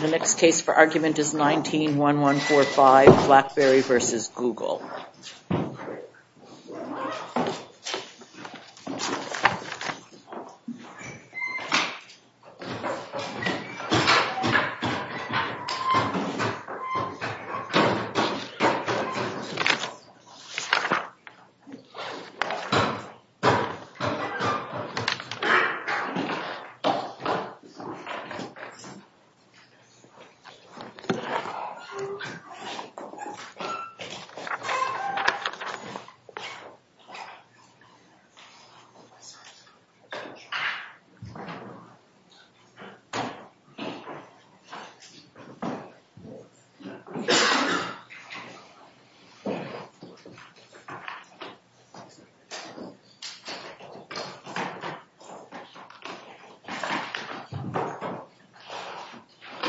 The next case for argument is 19-1145 Blackberry v. Google. The next case for argument is 19-1145 Blackberry v. Google.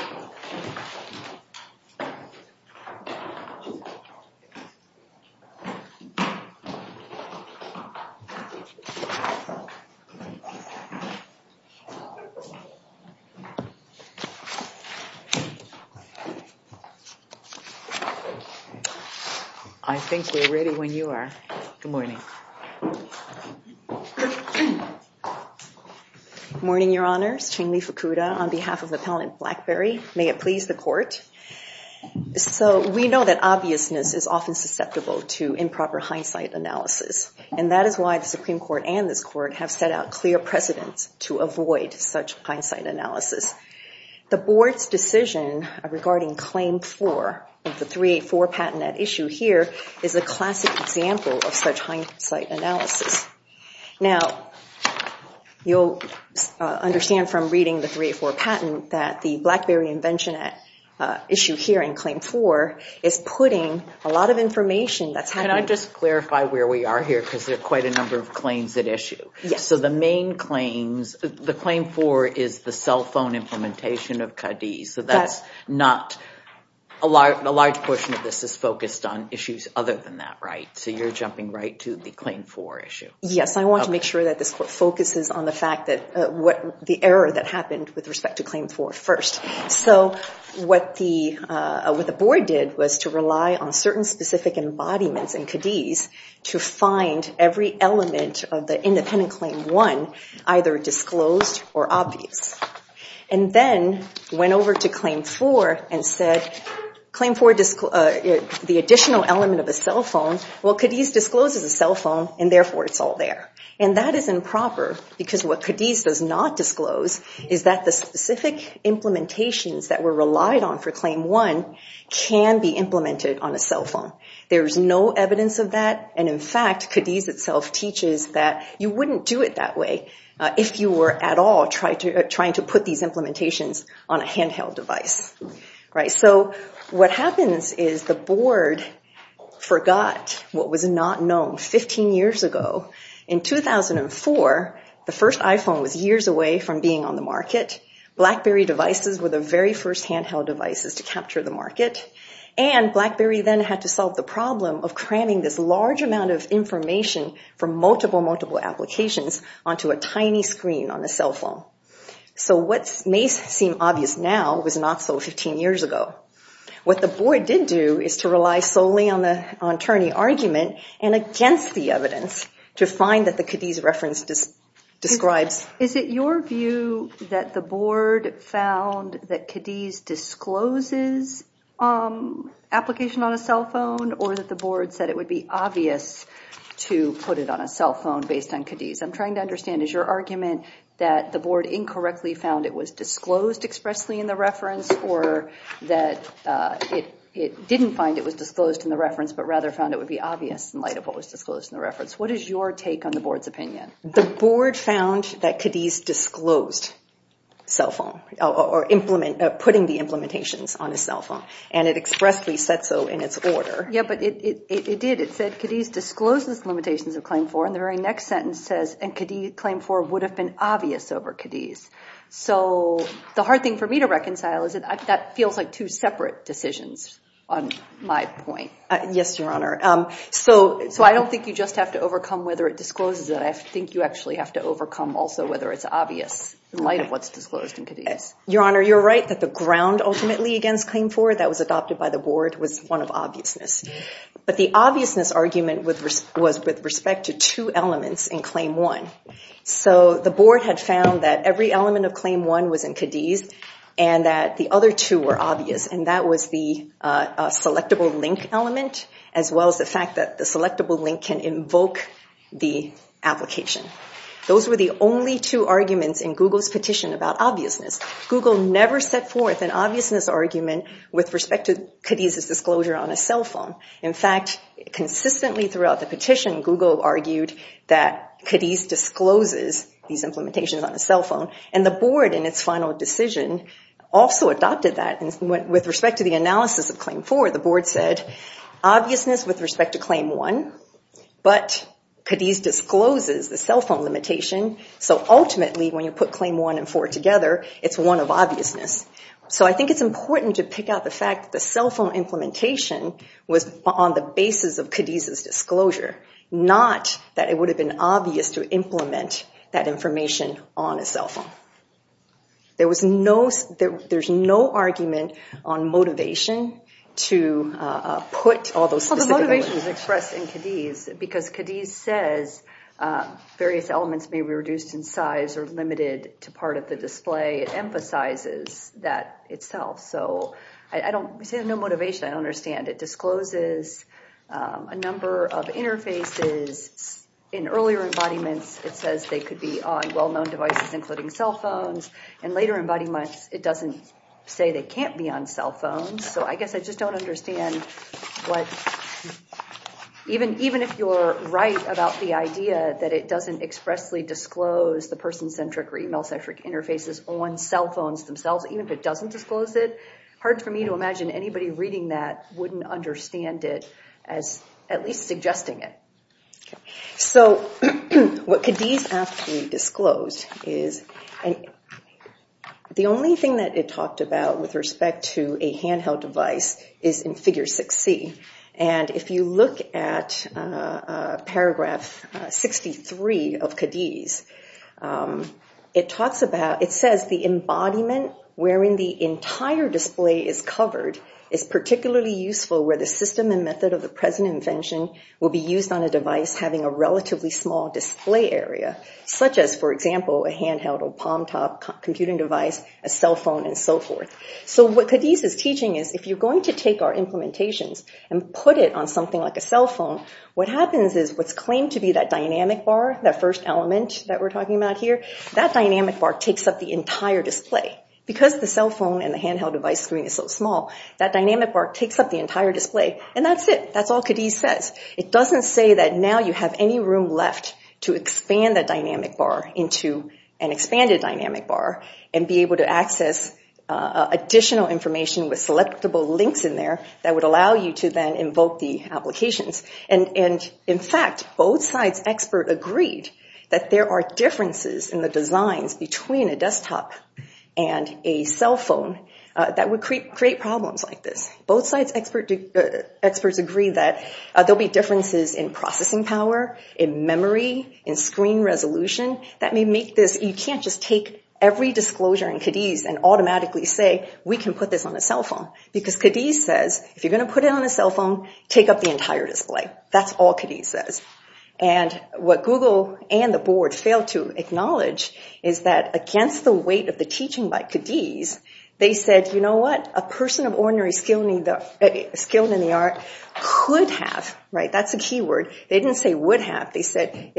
I think we're ready when you are. Good morning. Good morning, Your Honors. Ching-Li Fakuda on behalf of Appellant Blackberry. May it please the Court. So we know that obviousness is often susceptible to improper hindsight analysis. And that is why the Supreme Court and this Court have set out clear precedents to avoid such hindsight analysis. The Board's decision regarding Claim 4 of the 384 patent at issue here is a classic example of such hindsight analysis. Now, you'll understand from reading the 384 patent that the Blackberry invention at issue here in Claim 4 is putting a lot of information that's happening. Can I just clarify where we are here because there are quite a number of claims at issue. So the main claims, the Claim 4 is the cell phone implementation of Cadiz. So that's not, a large portion of this is focused on issues other than that, right? So you're jumping right to the Claim 4 issue. Yes, I want to make sure that this Court focuses on the fact that what the error that happened with respect to Claim 4 first. So what the Board did was to rely on certain specific embodiments in Cadiz to find every element of the independent Claim 1 either disclosed or obvious. And then went over to Claim 4 and said, Claim 4, the additional element of a cell phone. Well, Cadiz discloses a cell phone and therefore it's all there. And that is improper because what Cadiz does not disclose is that the specific implementations that were relied on for Claim 1 can be implemented on a cell phone. There's no evidence of that. And in fact, Cadiz itself teaches that you wouldn't do it that way if you were at all trying to put these implementations on a handheld device. So what happens is the Board forgot what was not known 15 years ago. In 2004, the first iPhone was years away from being on the market. BlackBerry devices were the very first handheld devices to capture the market. And BlackBerry then had to solve the problem of cramming this large amount of information from multiple, multiple applications onto a tiny screen on a cell phone. So what may seem obvious now was not so 15 years ago. What the Board did do is to rely solely on the attorney argument and against the evidence to find that the Cadiz reference describes. Is it your view that the Board found that Cadiz discloses application on a cell phone or that the Board said it would be obvious to put it on a cell phone based on Cadiz? I'm trying to understand. Is your argument that the Board incorrectly found it was disclosed expressly in the reference or that it didn't find it was disclosed in the reference, but rather found it would be obvious in light of what was disclosed in the reference? What is your take on the Board's opinion? The Board found that Cadiz disclosed cell phone or implement – putting the implementations on a cell phone. And it expressly said so in its order. Yeah, but it did. It said Cadiz discloses limitations of Claim 4, and the very next sentence says, and Claim 4 would have been obvious over Cadiz. So the hard thing for me to reconcile is that that feels like two separate decisions on my point. Yes, Your Honor. So I don't think you just have to overcome whether it discloses it. I think you actually have to overcome also whether it's obvious in light of what's disclosed in Cadiz. Your Honor, you're right that the ground ultimately against Claim 4 that was adopted by the Board was one of obviousness. But the obviousness argument was with respect to two elements in Claim 1. So the Board had found that every element of Claim 1 was in Cadiz and that the other two were obvious, and that was the selectable link element as well as the fact that the selectable link can invoke the application. Those were the only two arguments in Google's petition about obviousness. Google never set forth an obviousness argument with respect to Cadiz's disclosure on a cell phone. In fact, consistently throughout the petition, Google argued that Cadiz discloses these implementations on a cell phone, and the Board in its final decision also adopted that. With respect to the analysis of Claim 4, the Board said obviousness with respect to Claim 1, but Cadiz discloses the cell phone limitation. So ultimately when you put Claim 1 and 4 together, it's one of obviousness. So I think it's important to pick out the fact that the cell phone implementation was on the basis of Cadiz's disclosure, not that it would have been obvious to implement that information on a cell phone. There's no argument on motivation to put all those specific elements. It was expressed in Cadiz because Cadiz says various elements may be reduced in size or limited to part of the display. It emphasizes that itself. So I don't see no motivation. I don't understand. It discloses a number of interfaces. In earlier embodiments, it says they could be on well-known devices, including cell phones. In later embodiments, it doesn't say they can't be on cell phones. So I guess I just don't understand. Even if you're right about the idea that it doesn't expressly disclose the person-centric or email-centric interfaces on cell phones themselves, even if it doesn't disclose it, it's hard for me to imagine anybody reading that wouldn't understand it as at least suggesting it. So what Cadiz actually disclosed is the only thing that it talked about with respect to a handheld device is in figure 6C. And if you look at paragraph 63 of Cadiz, it says the embodiment wherein the entire display is covered is particularly useful where the system and method of the present invention will be used on a device having a relatively small display area, such as, for example, a handheld or palm-top computing device, a cell phone, and so forth. So what Cadiz is teaching is if you're going to take our implementations and put it on something like a cell phone, what happens is what's claimed to be that dynamic bar, that first element that we're talking about here, that dynamic bar takes up the entire display. Because the cell phone and the handheld device screen is so small, that dynamic bar takes up the entire display. And that's it. That's all Cadiz says. It doesn't say that now you have any room left to expand that dynamic bar into an expanded dynamic bar and be able to access additional information with selectable links in there that would allow you to then invoke the applications. And in fact, both sides expert agreed that there are differences in the designs between a desktop and a cell phone that would create problems like this. Both sides experts agree that there'll be differences in processing power, in memory, in screen resolution, that may make this, you can't just take every disclosure in Cadiz and automatically say we can put this on a cell phone. Because Cadiz says, if you're going to put it on a cell phone, take up the entire display. That's all Cadiz says. And what Google and the board failed to acknowledge is that against the weight of the teaching by Cadiz, they said, you know what, a person of ordinary skill in the art could have, right, that's a key word, they didn't say would have, they said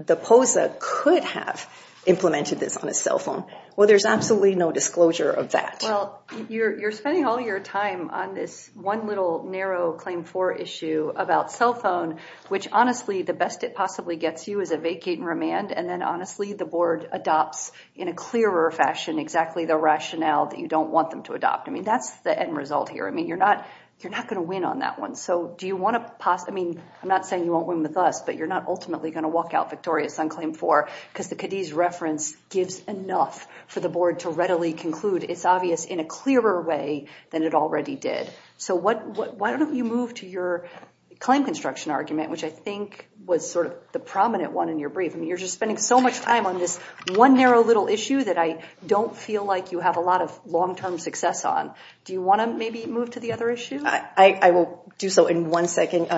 the POSA could have implemented this on a cell phone. Well, there's absolutely no disclosure of that. Well, you're spending all your time on this one little narrow claim for issue about cell phone, which honestly the best it possibly gets you is a vacate and remand, and then honestly the board adopts in a clearer fashion exactly the rationale that you don't want them to adopt. I mean, that's the end result here. I mean, you're not going to win on that one. So do you want to, I mean, I'm not saying you won't win with us, but you're not ultimately going to walk out victorious on claim four, because the Cadiz reference gives enough for the board to readily conclude. It's obvious in a clearer way than it already did. So why don't you move to your claim construction argument, which I think was sort of the prominent one in your brief. I mean, you're just spending so much time on this one narrow little issue that I don't feel like you have a lot of long-term success on. Do you want to maybe move to the other issue? I will do so in one second,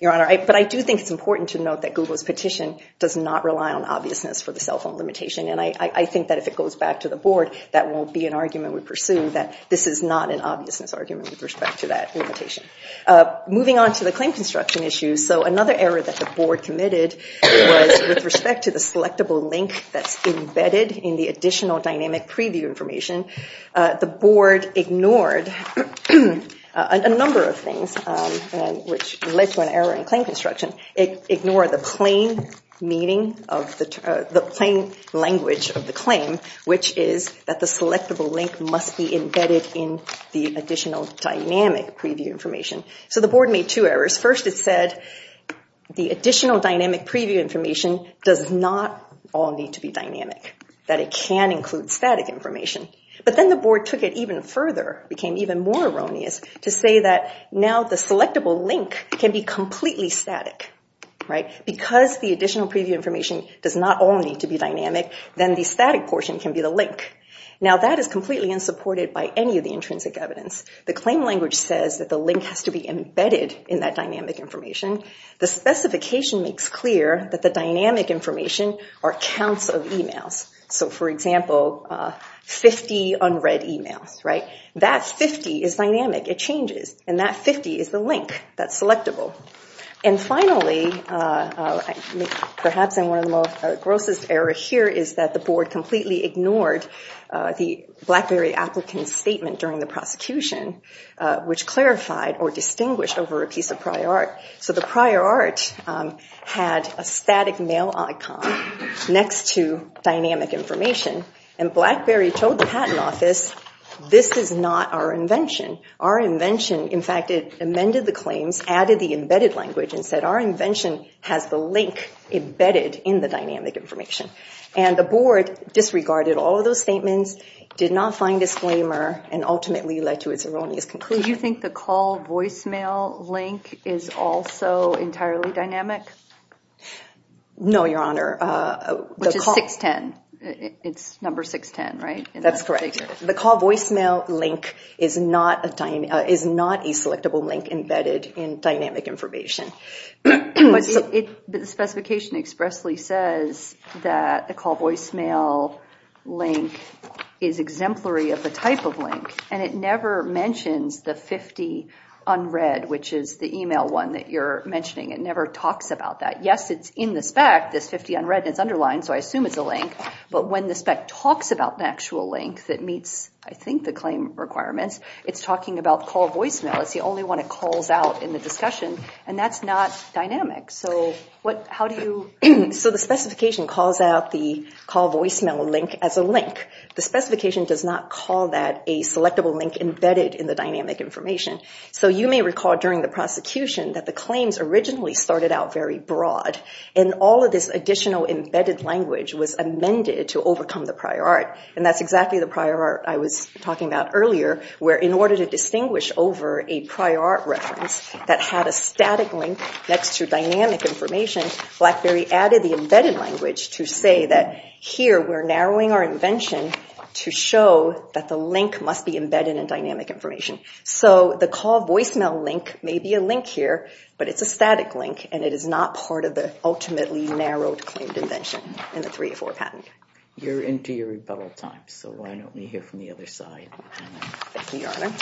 Your Honor, but I do think it's important to note that Google's petition does not rely on obviousness for the cell phone limitation, and I think that if it goes back to the board, that won't be an argument we pursue, that this is not an obviousness argument with respect to that limitation. Moving on to the claim construction issue, so another error that the board committed was with respect to the selectable link that's embedded in the additional dynamic preview information. The board ignored a number of things, which led to an error in claim construction. It ignored the plain language of the claim, which is that the selectable link must be embedded in the additional dynamic preview information. So the board made two errors. First, it said the additional dynamic preview information does not all need to be dynamic, that it can include static information. But then the board took it even further, became even more erroneous, to say that now the selectable link can be completely static. Because the additional preview information does not all need to be dynamic, then the static portion can be the link. Now that is completely unsupported by any of the intrinsic evidence. The claim language says that the link has to be embedded in that dynamic information. The specification makes clear that the dynamic information are counts of e-mails. So, for example, 50 unread e-mails. That 50 is dynamic, it changes, and that 50 is the link that's selectable. And finally, perhaps in one of the most grossest errors here, is that the board completely ignored the BlackBerry applicant's statement during the prosecution, which clarified or distinguished over a piece of prior art. So the prior art had a static mail icon next to dynamic information, and BlackBerry told the patent office, this is not our invention. Our invention, in fact, it amended the claims, added the embedded language, and said our invention has the link embedded in the dynamic information. And the board disregarded all of those statements, did not find a disclaimer, and ultimately led to its erroneous conclusion. Do you think the call voicemail link is also entirely dynamic? No, Your Honor. Which is 610. It's number 610, right? That's correct. The call voicemail link is not a selectable link embedded in dynamic information. But the specification expressly says that the call voicemail link is exemplary of the type of link, and it never mentions the 50 unread, which is the e-mail one that you're mentioning. It never talks about that. Yes, it's in the spec, this 50 unread, and it's underlined, so I assume it's a link. But when the spec talks about the actual link that meets, I think, the claim requirements, it's talking about call voicemail. It's the only one it calls out in the discussion, and that's not dynamic. So how do you? So the specification calls out the call voicemail link as a link. The specification does not call that a selectable link embedded in the dynamic information. So you may recall during the prosecution that the claims originally started out very broad, and all of this additional embedded language was amended to overcome the prior art, and that's exactly the prior art I was talking about earlier, where in order to distinguish over a prior art reference that had a static link next to dynamic information, BlackBerry added the embedded language to say that here we're narrowing our invention to show that the link must be embedded in dynamic information. So the call voicemail link may be a link here, but it's a static link, and it is not part of the ultimately narrowed claimed invention in the 304 patent. You're into your rebuttal time, so why don't we hear from the other side? Thank you, Your Honor.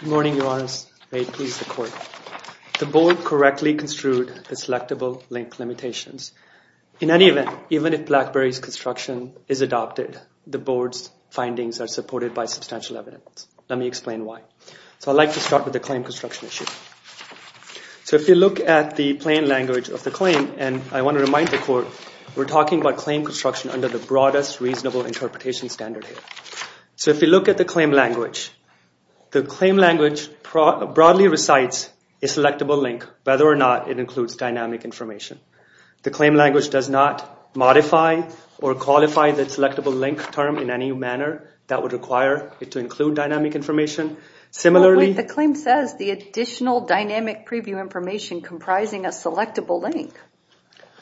Good morning, Your Honors. May it please the Court. The Board correctly construed the selectable link limitations. In any event, even if BlackBerry's construction is adopted, the Board's findings are supported by substantial evidence. Let me explain why. So I'd like to start with the claim construction issue. So if you look at the plain language of the claim, and I want to remind the Court, we're talking about claim construction under the broadest reasonable interpretation standard here. So if you look at the claim language, the claim language broadly recites a selectable link, whether or not it includes dynamic information. The claim language does not modify or qualify the selectable link term in any manner that would require it to include dynamic information. The claim says the additional dynamic preview information comprising a selectable link.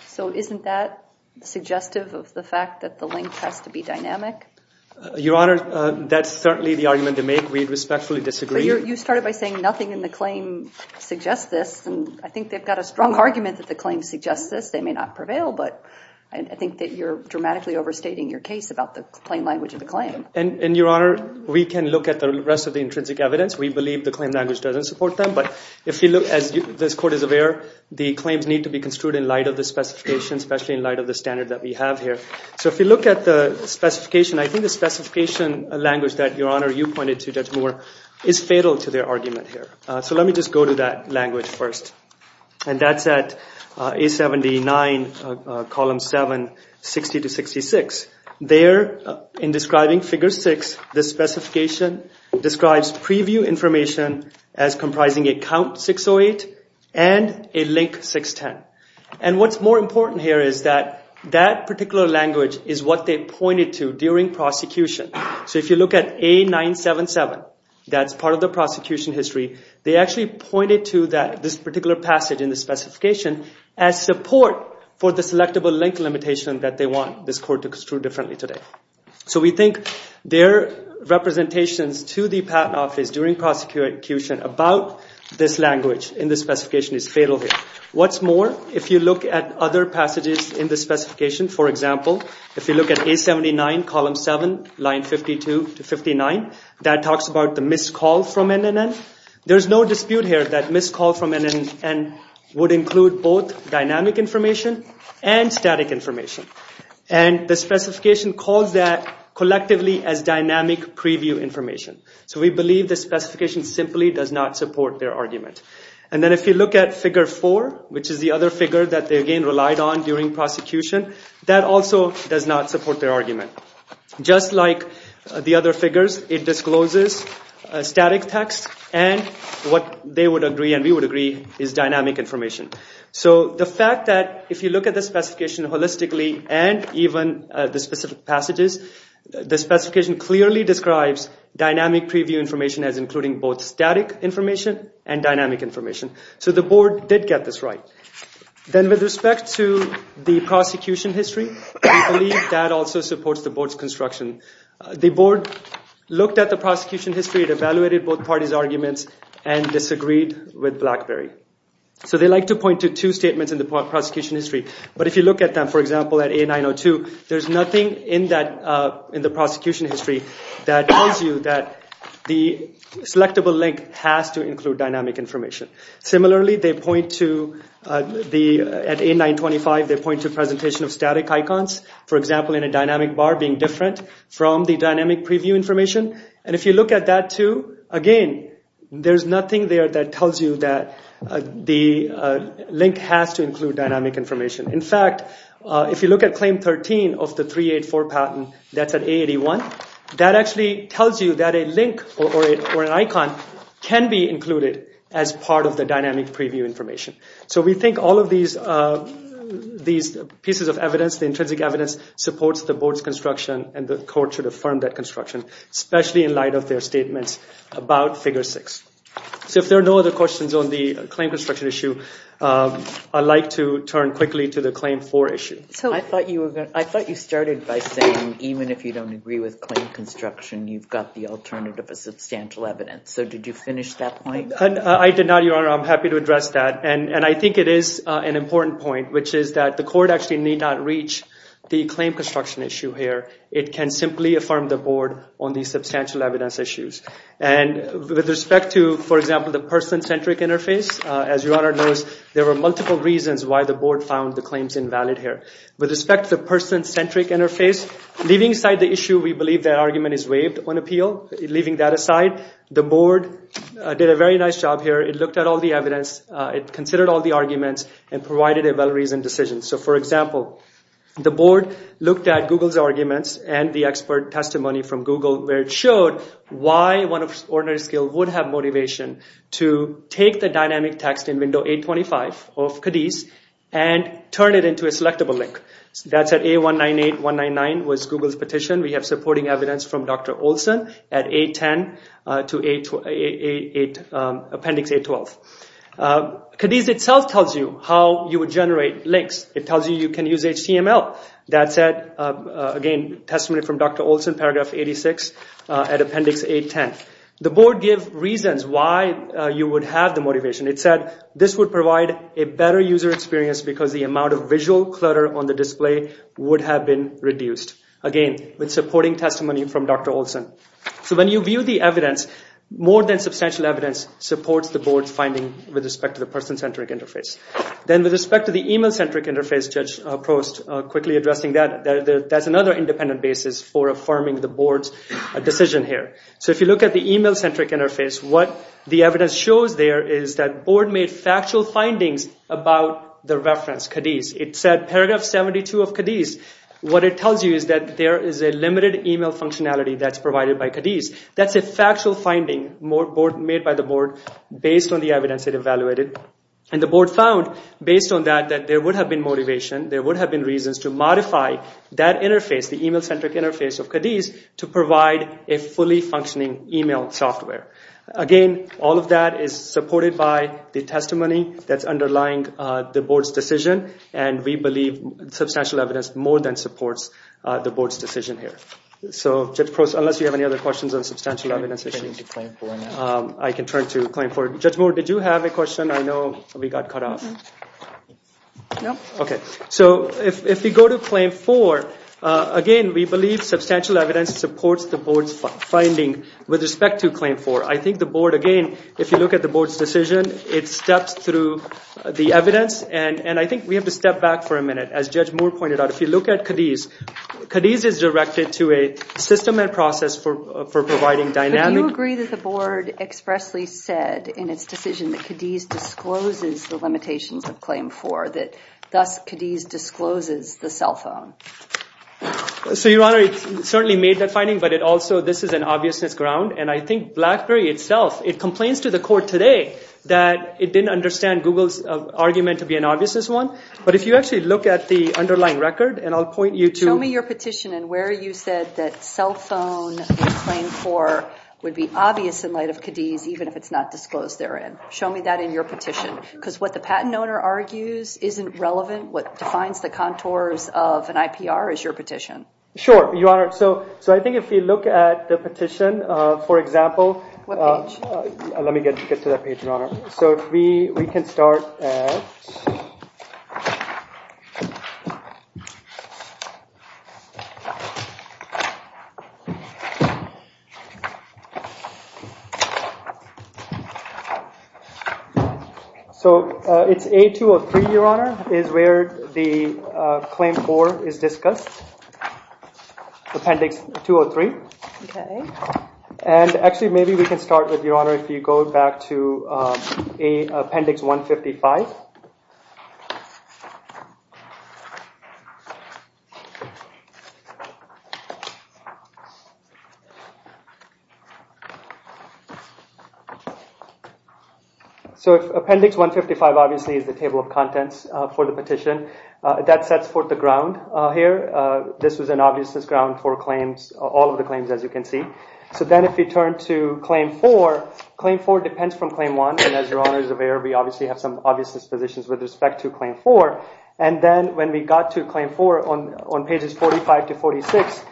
So isn't that suggestive of the fact that the link has to be dynamic? Your Honor, that's certainly the argument to make. We respectfully disagree. But you started by saying nothing in the claim suggests this, and I think they've got a strong argument that the claim suggests this. They may not prevail, but I think that you're dramatically overstating your case about the plain language of the claim. And, Your Honor, we can look at the rest of the intrinsic evidence. We believe the claim language doesn't support them. But if you look, as this Court is aware, the claims need to be construed in light of the specifications, especially in light of the standard that we have here. So if you look at the specification, I think the specification language that, Your Honor, you pointed to, Judge Moore, is fatal to their argument here. So let me just go to that language first. And that's at A79, Column 7, 60-66. There, in describing Figure 6, the specification describes preview information as comprising a Count 608 and a Link 610. And what's more important here is that that particular language is what they pointed to during prosecution. So if you look at A977, that's part of the prosecution history, they actually pointed to this particular passage in the specification as support for the selectable link limitation that they want this Court to construe differently today. So we think their representations to the Patent Office during prosecution about this language in the specification is fatal here. What's more, if you look at other passages in the specification, for example, if you look at A79, Column 7, Lines 52-59, that talks about the missed call from NNN. There's no dispute here that missed call from NNN would include both dynamic information and static information. And the specification calls that collectively as dynamic preview information. So we believe the specification simply does not support their argument. And then if you look at Figure 4, which is the other figure that they again relied on during prosecution, that also does not support their argument. Just like the other figures, it discloses static text and what they would agree and we would agree is dynamic information. So the fact that if you look at the specification holistically and even the specific passages, the specification clearly describes dynamic preview information as including both static information and dynamic information. So the Board did get this right. Then with respect to the prosecution history, we believe that also supports the Board's construction. The Board looked at the prosecution history, evaluated both parties' arguments, and disagreed with BlackBerry. So they like to point to two statements in the prosecution history. But if you look at them, for example, at A902, there's nothing in the prosecution history that tells you that the selectable link has to include dynamic information. Similarly, at A925, they point to presentation of static icons. For example, in a dynamic bar being different from the dynamic preview information. And if you look at that too, again, there's nothing there that tells you that the link has to include dynamic information. In fact, if you look at Claim 13 of the 384 patent, that's at A81, that actually tells you that a link or an icon can be included as part of the dynamic preview information. So we think all of these pieces of evidence, the intrinsic evidence, supports the Board's construction and the Court should affirm that construction, especially in light of their statements about Figure 6. So if there are no other questions on the claim construction issue, I'd like to turn quickly to the Claim 4 issue. I thought you started by saying even if you don't agree with claim construction, you've got the alternative of substantial evidence. So did you finish that point? I did not, Your Honor. I'm happy to address that. And I think it is an important point, which is that the Court actually need not reach the claim construction issue here. It can simply affirm the Board on the substantial evidence issues. And with respect to, for example, the person-centric interface, as Your Honor knows, there were multiple reasons why the Board found the claims invalid here. With respect to the person-centric interface, leaving aside the issue we believe that argument is waived on appeal, leaving that aside, the Board did a very nice job here. It looked at all the evidence, it considered all the arguments, and provided a well-reasoned decision. So, for example, the Board looked at Google's arguments and the expert testimony from Google where it showed why one of ordinary skill would have motivation to take the dynamic text in Window 825 of Cadiz and turn it into a selectable link. That's at A198-199 was Google's petition. We have supporting evidence from Dr. Olson at A10 to Appendix A12. Cadiz itself tells you how you would generate links. It tells you you can use HTML. Well, that said, again, testimony from Dr. Olson, Paragraph 86 at Appendix A10. The Board gave reasons why you would have the motivation. It said this would provide a better user experience because the amount of visual clutter on the display would have been reduced. Again, with supporting testimony from Dr. Olson. So when you view the evidence, more than substantial evidence supports the Board's finding with respect to the person-centric interface. Then with respect to the email-centric interface, Judge Prost quickly addressing that. That's another independent basis for affirming the Board's decision here. So if you look at the email-centric interface, what the evidence shows there is that the Board made factual findings about the reference Cadiz. It said Paragraph 72 of Cadiz. What it tells you is that there is a limited email functionality that's provided by Cadiz. That's a factual finding made by the Board based on the evidence it evaluated. And the Board found, based on that, that there would have been motivation. There would have been reasons to modify that interface, the email-centric interface of Cadiz, to provide a fully functioning email software. Again, all of that is supported by the testimony that's underlying the Board's decision. And we believe substantial evidence more than supports the Board's decision here. So, Judge Prost, unless you have any other questions on substantial evidence issues, I can turn to claim forward. Judge Moore, did you have a question? I know we got cut off. No. Okay. So if we go to claim four, again, we believe substantial evidence supports the Board's finding with respect to claim four. I think the Board, again, if you look at the Board's decision, it steps through the evidence. And I think we have to step back for a minute. As Judge Moore pointed out, if you look at Cadiz, Cadiz is directed to a system and process for providing dynamic— in its decision that Cadiz discloses the limitations of claim four, that thus Cadiz discloses the cell phone. So, Your Honor, it certainly made that finding, but it also—this is an obviousness ground. And I think BlackBerry itself, it complains to the court today that it didn't understand Google's argument to be an obviousness one. But if you actually look at the underlying record, and I'll point you to— Show me that in your petition, because what the patent owner argues isn't relevant, what defines the contours of an IPR is your petition. Sure, Your Honor. So I think if you look at the petition, for example— What page? So we can start at— So it's A203, Your Honor, is where the claim four is discussed, Appendix 203. Okay. And actually, maybe we can start with, Your Honor, if you go back to Appendix 155. So Appendix 155, obviously, is the table of contents for the petition. That sets forth the ground here. This was an obviousness ground for claims, all of the claims, as you can see. So then if you turn to claim four, claim four depends from claim one. And as Your Honor is aware, we obviously have some obviousness positions with respect to claim four. And then when we got to claim four on pages 45 to 46,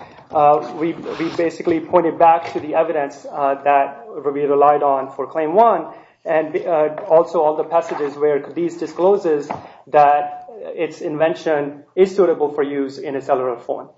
we basically pointed back to the evidence that we relied on for claim one. And also all the passages where Cadiz discloses that its invention is suitable for use in a cellular phone.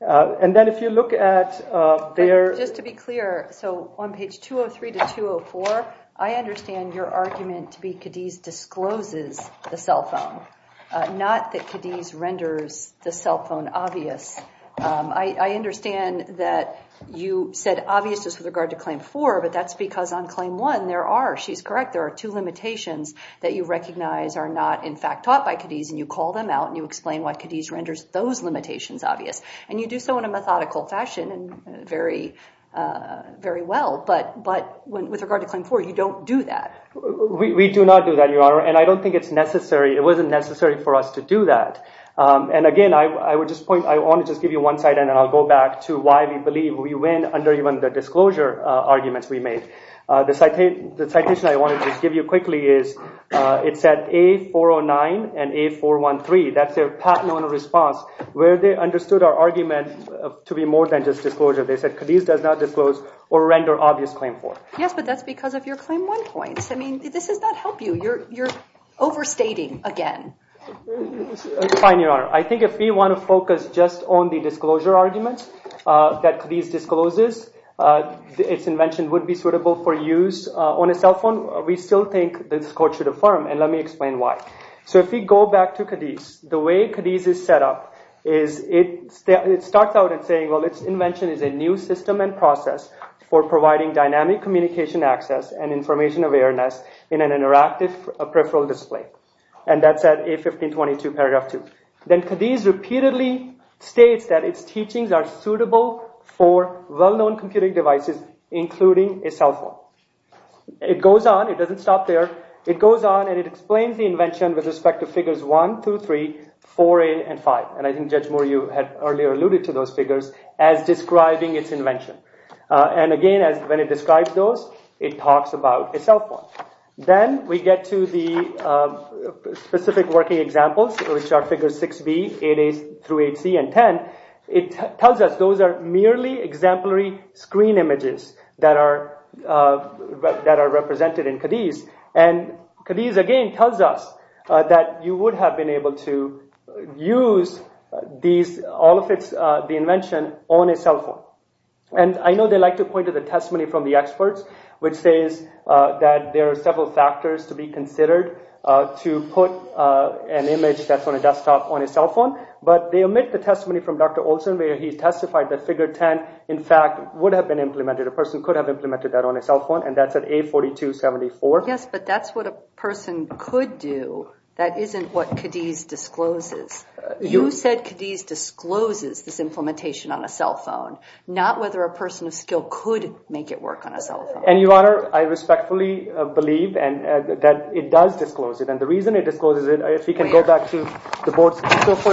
And then if you look at their— Just to be clear, so on page 203 to 204, I understand your argument to be Cadiz discloses the cell phone, not that Cadiz renders the cell phone obvious. I understand that you said obviousness with regard to claim four, but that's because on claim one, there are, she's correct, there are two limitations that you recognize are not, in fact, taught by Cadiz, and you call them out, and you explain why Cadiz renders those limitations obvious. And you do so in a methodical fashion and very well, but with regard to claim four, you don't do that. We do not do that, Your Honor, and I don't think it's necessary—it wasn't necessary for us to do that. And again, I would just point—I want to just give you one side, and then I'll go back to why we believe we win under even the disclosure arguments we made. The citation I wanted to give you quickly is, it said A409 and A413, that's their patent owner response, where they understood our argument to be more than just disclosure. They said Cadiz does not disclose or render obvious claim four. Yes, but that's because of your claim one points. I mean, this does not help you. You're overstating again. Fine, Your Honor. I think if we want to focus just on the disclosure arguments that Cadiz discloses, its invention would be suitable for use on a cell phone. We still think this court should affirm, and let me explain why. So if we go back to Cadiz, the way Cadiz is set up is it starts out in saying, well, its invention is a new system and process for providing dynamic communication access and information awareness in an interactive peripheral display. And that's at A1522, paragraph 2. Then Cadiz repeatedly states that its teachings are suitable for well-known computing devices, including a cell phone. It goes on, it doesn't stop there. It goes on and it explains the invention with respect to figures 1 through 3, 4A and 5. And I think Judge Moore, you had earlier alluded to those figures as describing its invention. And again, when it describes those, it talks about a cell phone. Then we get to the specific working examples, which are figures 6B, 8A through 8C and 10. It tells us those are merely exemplary screen images that are represented in Cadiz. And Cadiz again tells us that you would have been able to use all of the invention on a cell phone. And I know they like to point to the testimony from the experts, which says that there are several factors to be considered to put an image that's on a desktop on a cell phone. But they omit the testimony from Dr. Olson where he testified that figure 10, in fact, would have been implemented. A person could have implemented that on a cell phone, and that's at A4274. Yes, but that's what a person could do. That isn't what Cadiz discloses. You said Cadiz discloses this implementation on a cell phone, not whether a person of skill could make it work on a cell phone. And, Your Honor, I respectfully believe that it does disclose it. And the reason it discloses it, if we can go back to the board's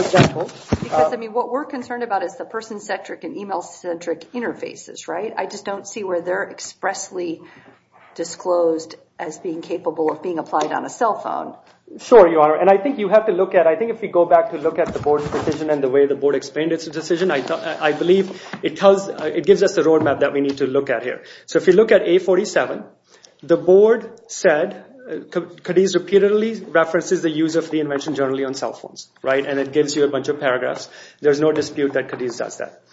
example. Because, I mean, what we're concerned about is the person-centric and email-centric interfaces, right? I just don't see where they're expressly disclosed as being capable of being applied on a cell phone. Sure, Your Honor, and I think you have to look at it. I think if we go back to look at the board's decision and the way the board explained its decision, I believe it gives us the roadmap that we need to look at here. So if you look at A47, the board said Cadiz repeatedly references the use of the invention generally on cell phones. And it gives you a bunch of paragraphs. There's no dispute that Cadiz does that.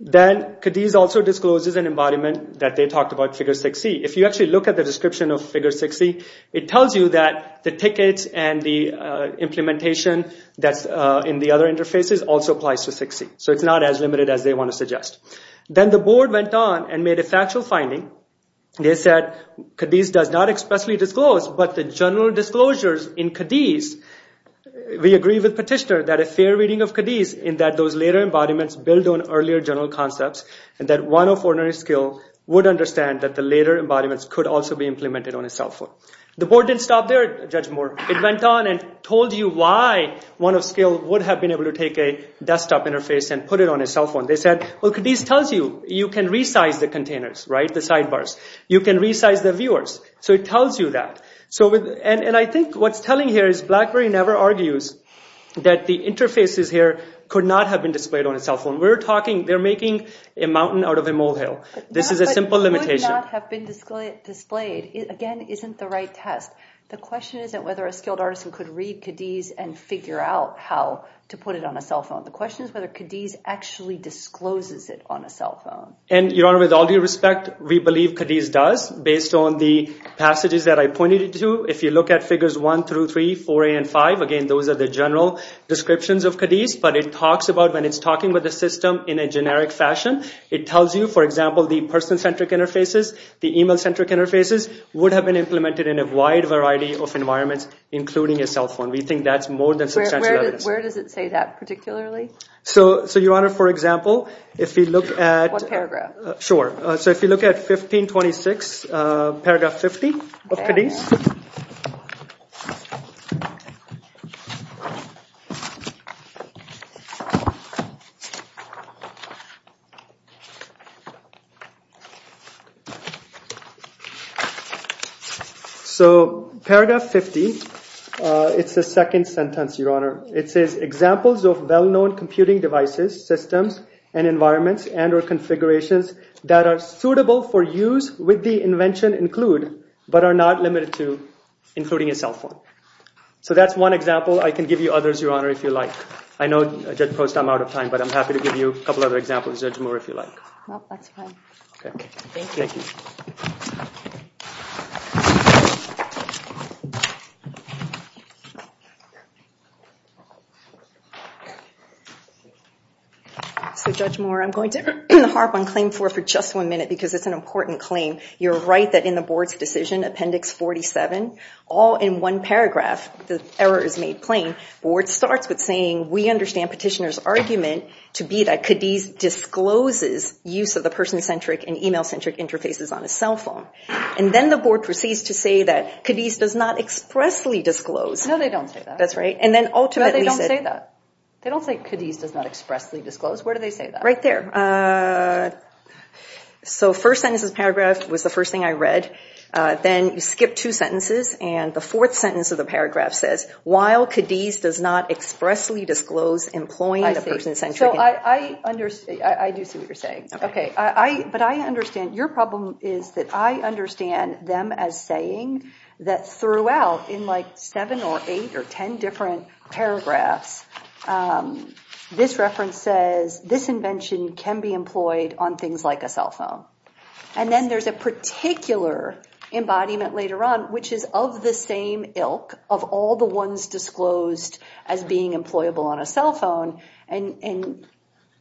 Then Cadiz also discloses an embodiment that they talked about, figure 6C. If you actually look at the description of figure 6C, it tells you that the tickets and the implementation that's in the other interfaces also applies to 6C. So it's not as limited as they want to suggest. Then the board went on and made a factual finding. They said Cadiz does not expressly disclose, but the general disclosures in Cadiz, we agree with Petitioner that a fair reading of Cadiz in that those later embodiments build on earlier general concepts and that one of ordinary skill would understand that the later embodiments could also be implemented on a cell phone. The board didn't stop there, Judge Moore. It went on and told you why one of skill would have been able to take a desktop interface and put it on a cell phone. They said, well, Cadiz tells you you can resize the containers, right, the sidebars. You can resize the viewers. So it tells you that. And I think what's telling here is BlackBerry never argues that the interfaces here could not have been displayed on a cell phone. We're talking they're making a mountain out of a molehill. This is a simple limitation. It would not have been displayed. Again, it isn't the right test. The question isn't whether a skilled artisan could read Cadiz and figure out how to put it on a cell phone. The question is whether Cadiz actually discloses it on a cell phone. And, Your Honor, with all due respect, we believe Cadiz does. Based on the passages that I pointed to, if you look at figures 1 through 3, 4A and 5, again, those are the general descriptions of Cadiz. But when it's talking with the system in a generic fashion, it tells you, for example, the person-centric interfaces, the email-centric interfaces would have been implemented in a wide variety of environments, including a cell phone. We think that's more than substantial evidence. Where does it say that particularly? So, Your Honor, for example, if you look at— One paragraph. Sure. So if you look at 1526, paragraph 50 of Cadiz. So paragraph 50, it's the second sentence, Your Honor. It says, examples of well-known computing devices, systems, and environments and or configurations that are suitable for use with the invention include, but are not limited to, including a cell phone. So that's one example. I can give you others, Your Honor, if you like. I know, Judge Post, I'm out of time, but I'm happy to give you a couple other examples, Judge Moore, if you like. Okay. Thank you. Thank you. So, Judge Moore, I'm going to harp on Claim 4 for just one minute because it's an important claim. You're right that in the Board's decision, Appendix 47, all in one paragraph, the error is made plain. The Board starts with saying, we understand Petitioner's argument to be that Cadiz discloses use of the person-centric and email-centric interfaces on a cell phone. And then the Board proceeds to say that Cadiz does not expressly disclose. No, they don't say that. That's right. And then ultimately— No, they don't say that. They don't say Cadiz does not expressly disclose. Where do they say that? Right there. So first sentence of the paragraph was the first thing I read. Then you skip two sentences, and the fourth sentence of the paragraph says, while Cadiz does not expressly disclose employing the person-centric— I see. So I understand. I do see what you're saying. Okay. But I understand. Your problem is that I understand them as saying that throughout, in like seven or eight or ten different paragraphs, this reference says, this invention can be employed on things like a cell phone. And then there's a particular embodiment later on, which is of the same ilk of all the ones disclosed as being employable on a cell phone. And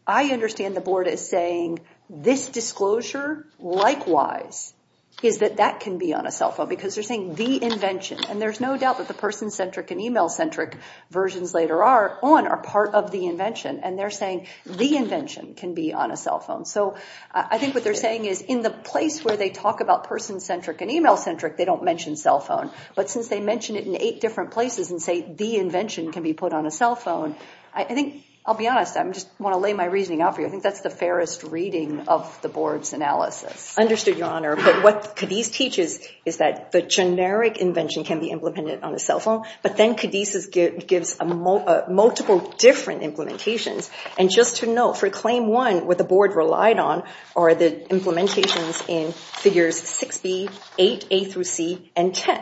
I understand the Board as saying this disclosure, likewise, is that that can be on a cell phone because they're saying the invention. And there's no doubt that the person-centric and email-centric versions later on are part of the invention. And they're saying the invention can be on a cell phone. So I think what they're saying is in the place where they talk about person-centric and email-centric, they don't mention cell phone. But since they mention it in eight different places and say the invention can be put on a cell phone, I think—I'll be honest. I just want to lay my reasoning out for you. I think that's the fairest reading of the Board's analysis. Understood, Your Honor. But what Cadiz teaches is that the generic invention can be implemented on a cell phone, but then Cadiz gives multiple different implementations. And just to note, for Claim 1, what the Board relied on are the implementations in Figures 6B, 8, A through C, and 10.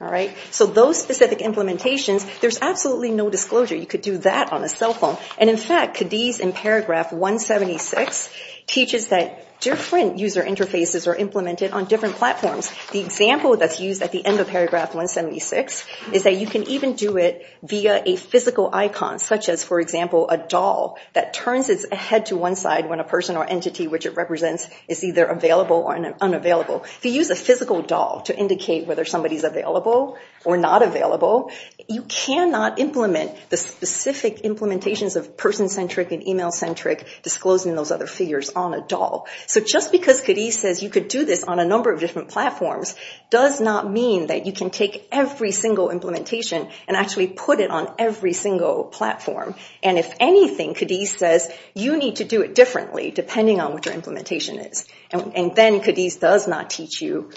All right? So those specific implementations, there's absolutely no disclosure you could do that on a cell phone. And, in fact, Cadiz in paragraph 176 teaches that different user interfaces are implemented on different platforms. The example that's used at the end of paragraph 176 is that you can even do it via a physical icon, such as, for example, a doll that turns its head to one side when a person or entity which it represents is either available or unavailable. If you use a physical doll to indicate whether somebody's available or not available, you cannot implement the specific implementations of person-centric and email-centric disclosing those other figures on a doll. So just because Cadiz says you could do this on a number of different platforms does not mean that you can take every single implementation and actually put it on every single platform. And, if anything, Cadiz says you need to do it differently depending on what your implementation is. And then Cadiz does not teach you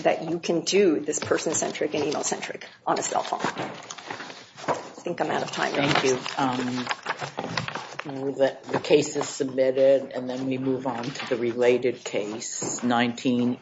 that you can do this person-centric and email-centric on a cell phone. I think I'm out of time. Thank you. The case is submitted and then we move on to the related case, 19-1.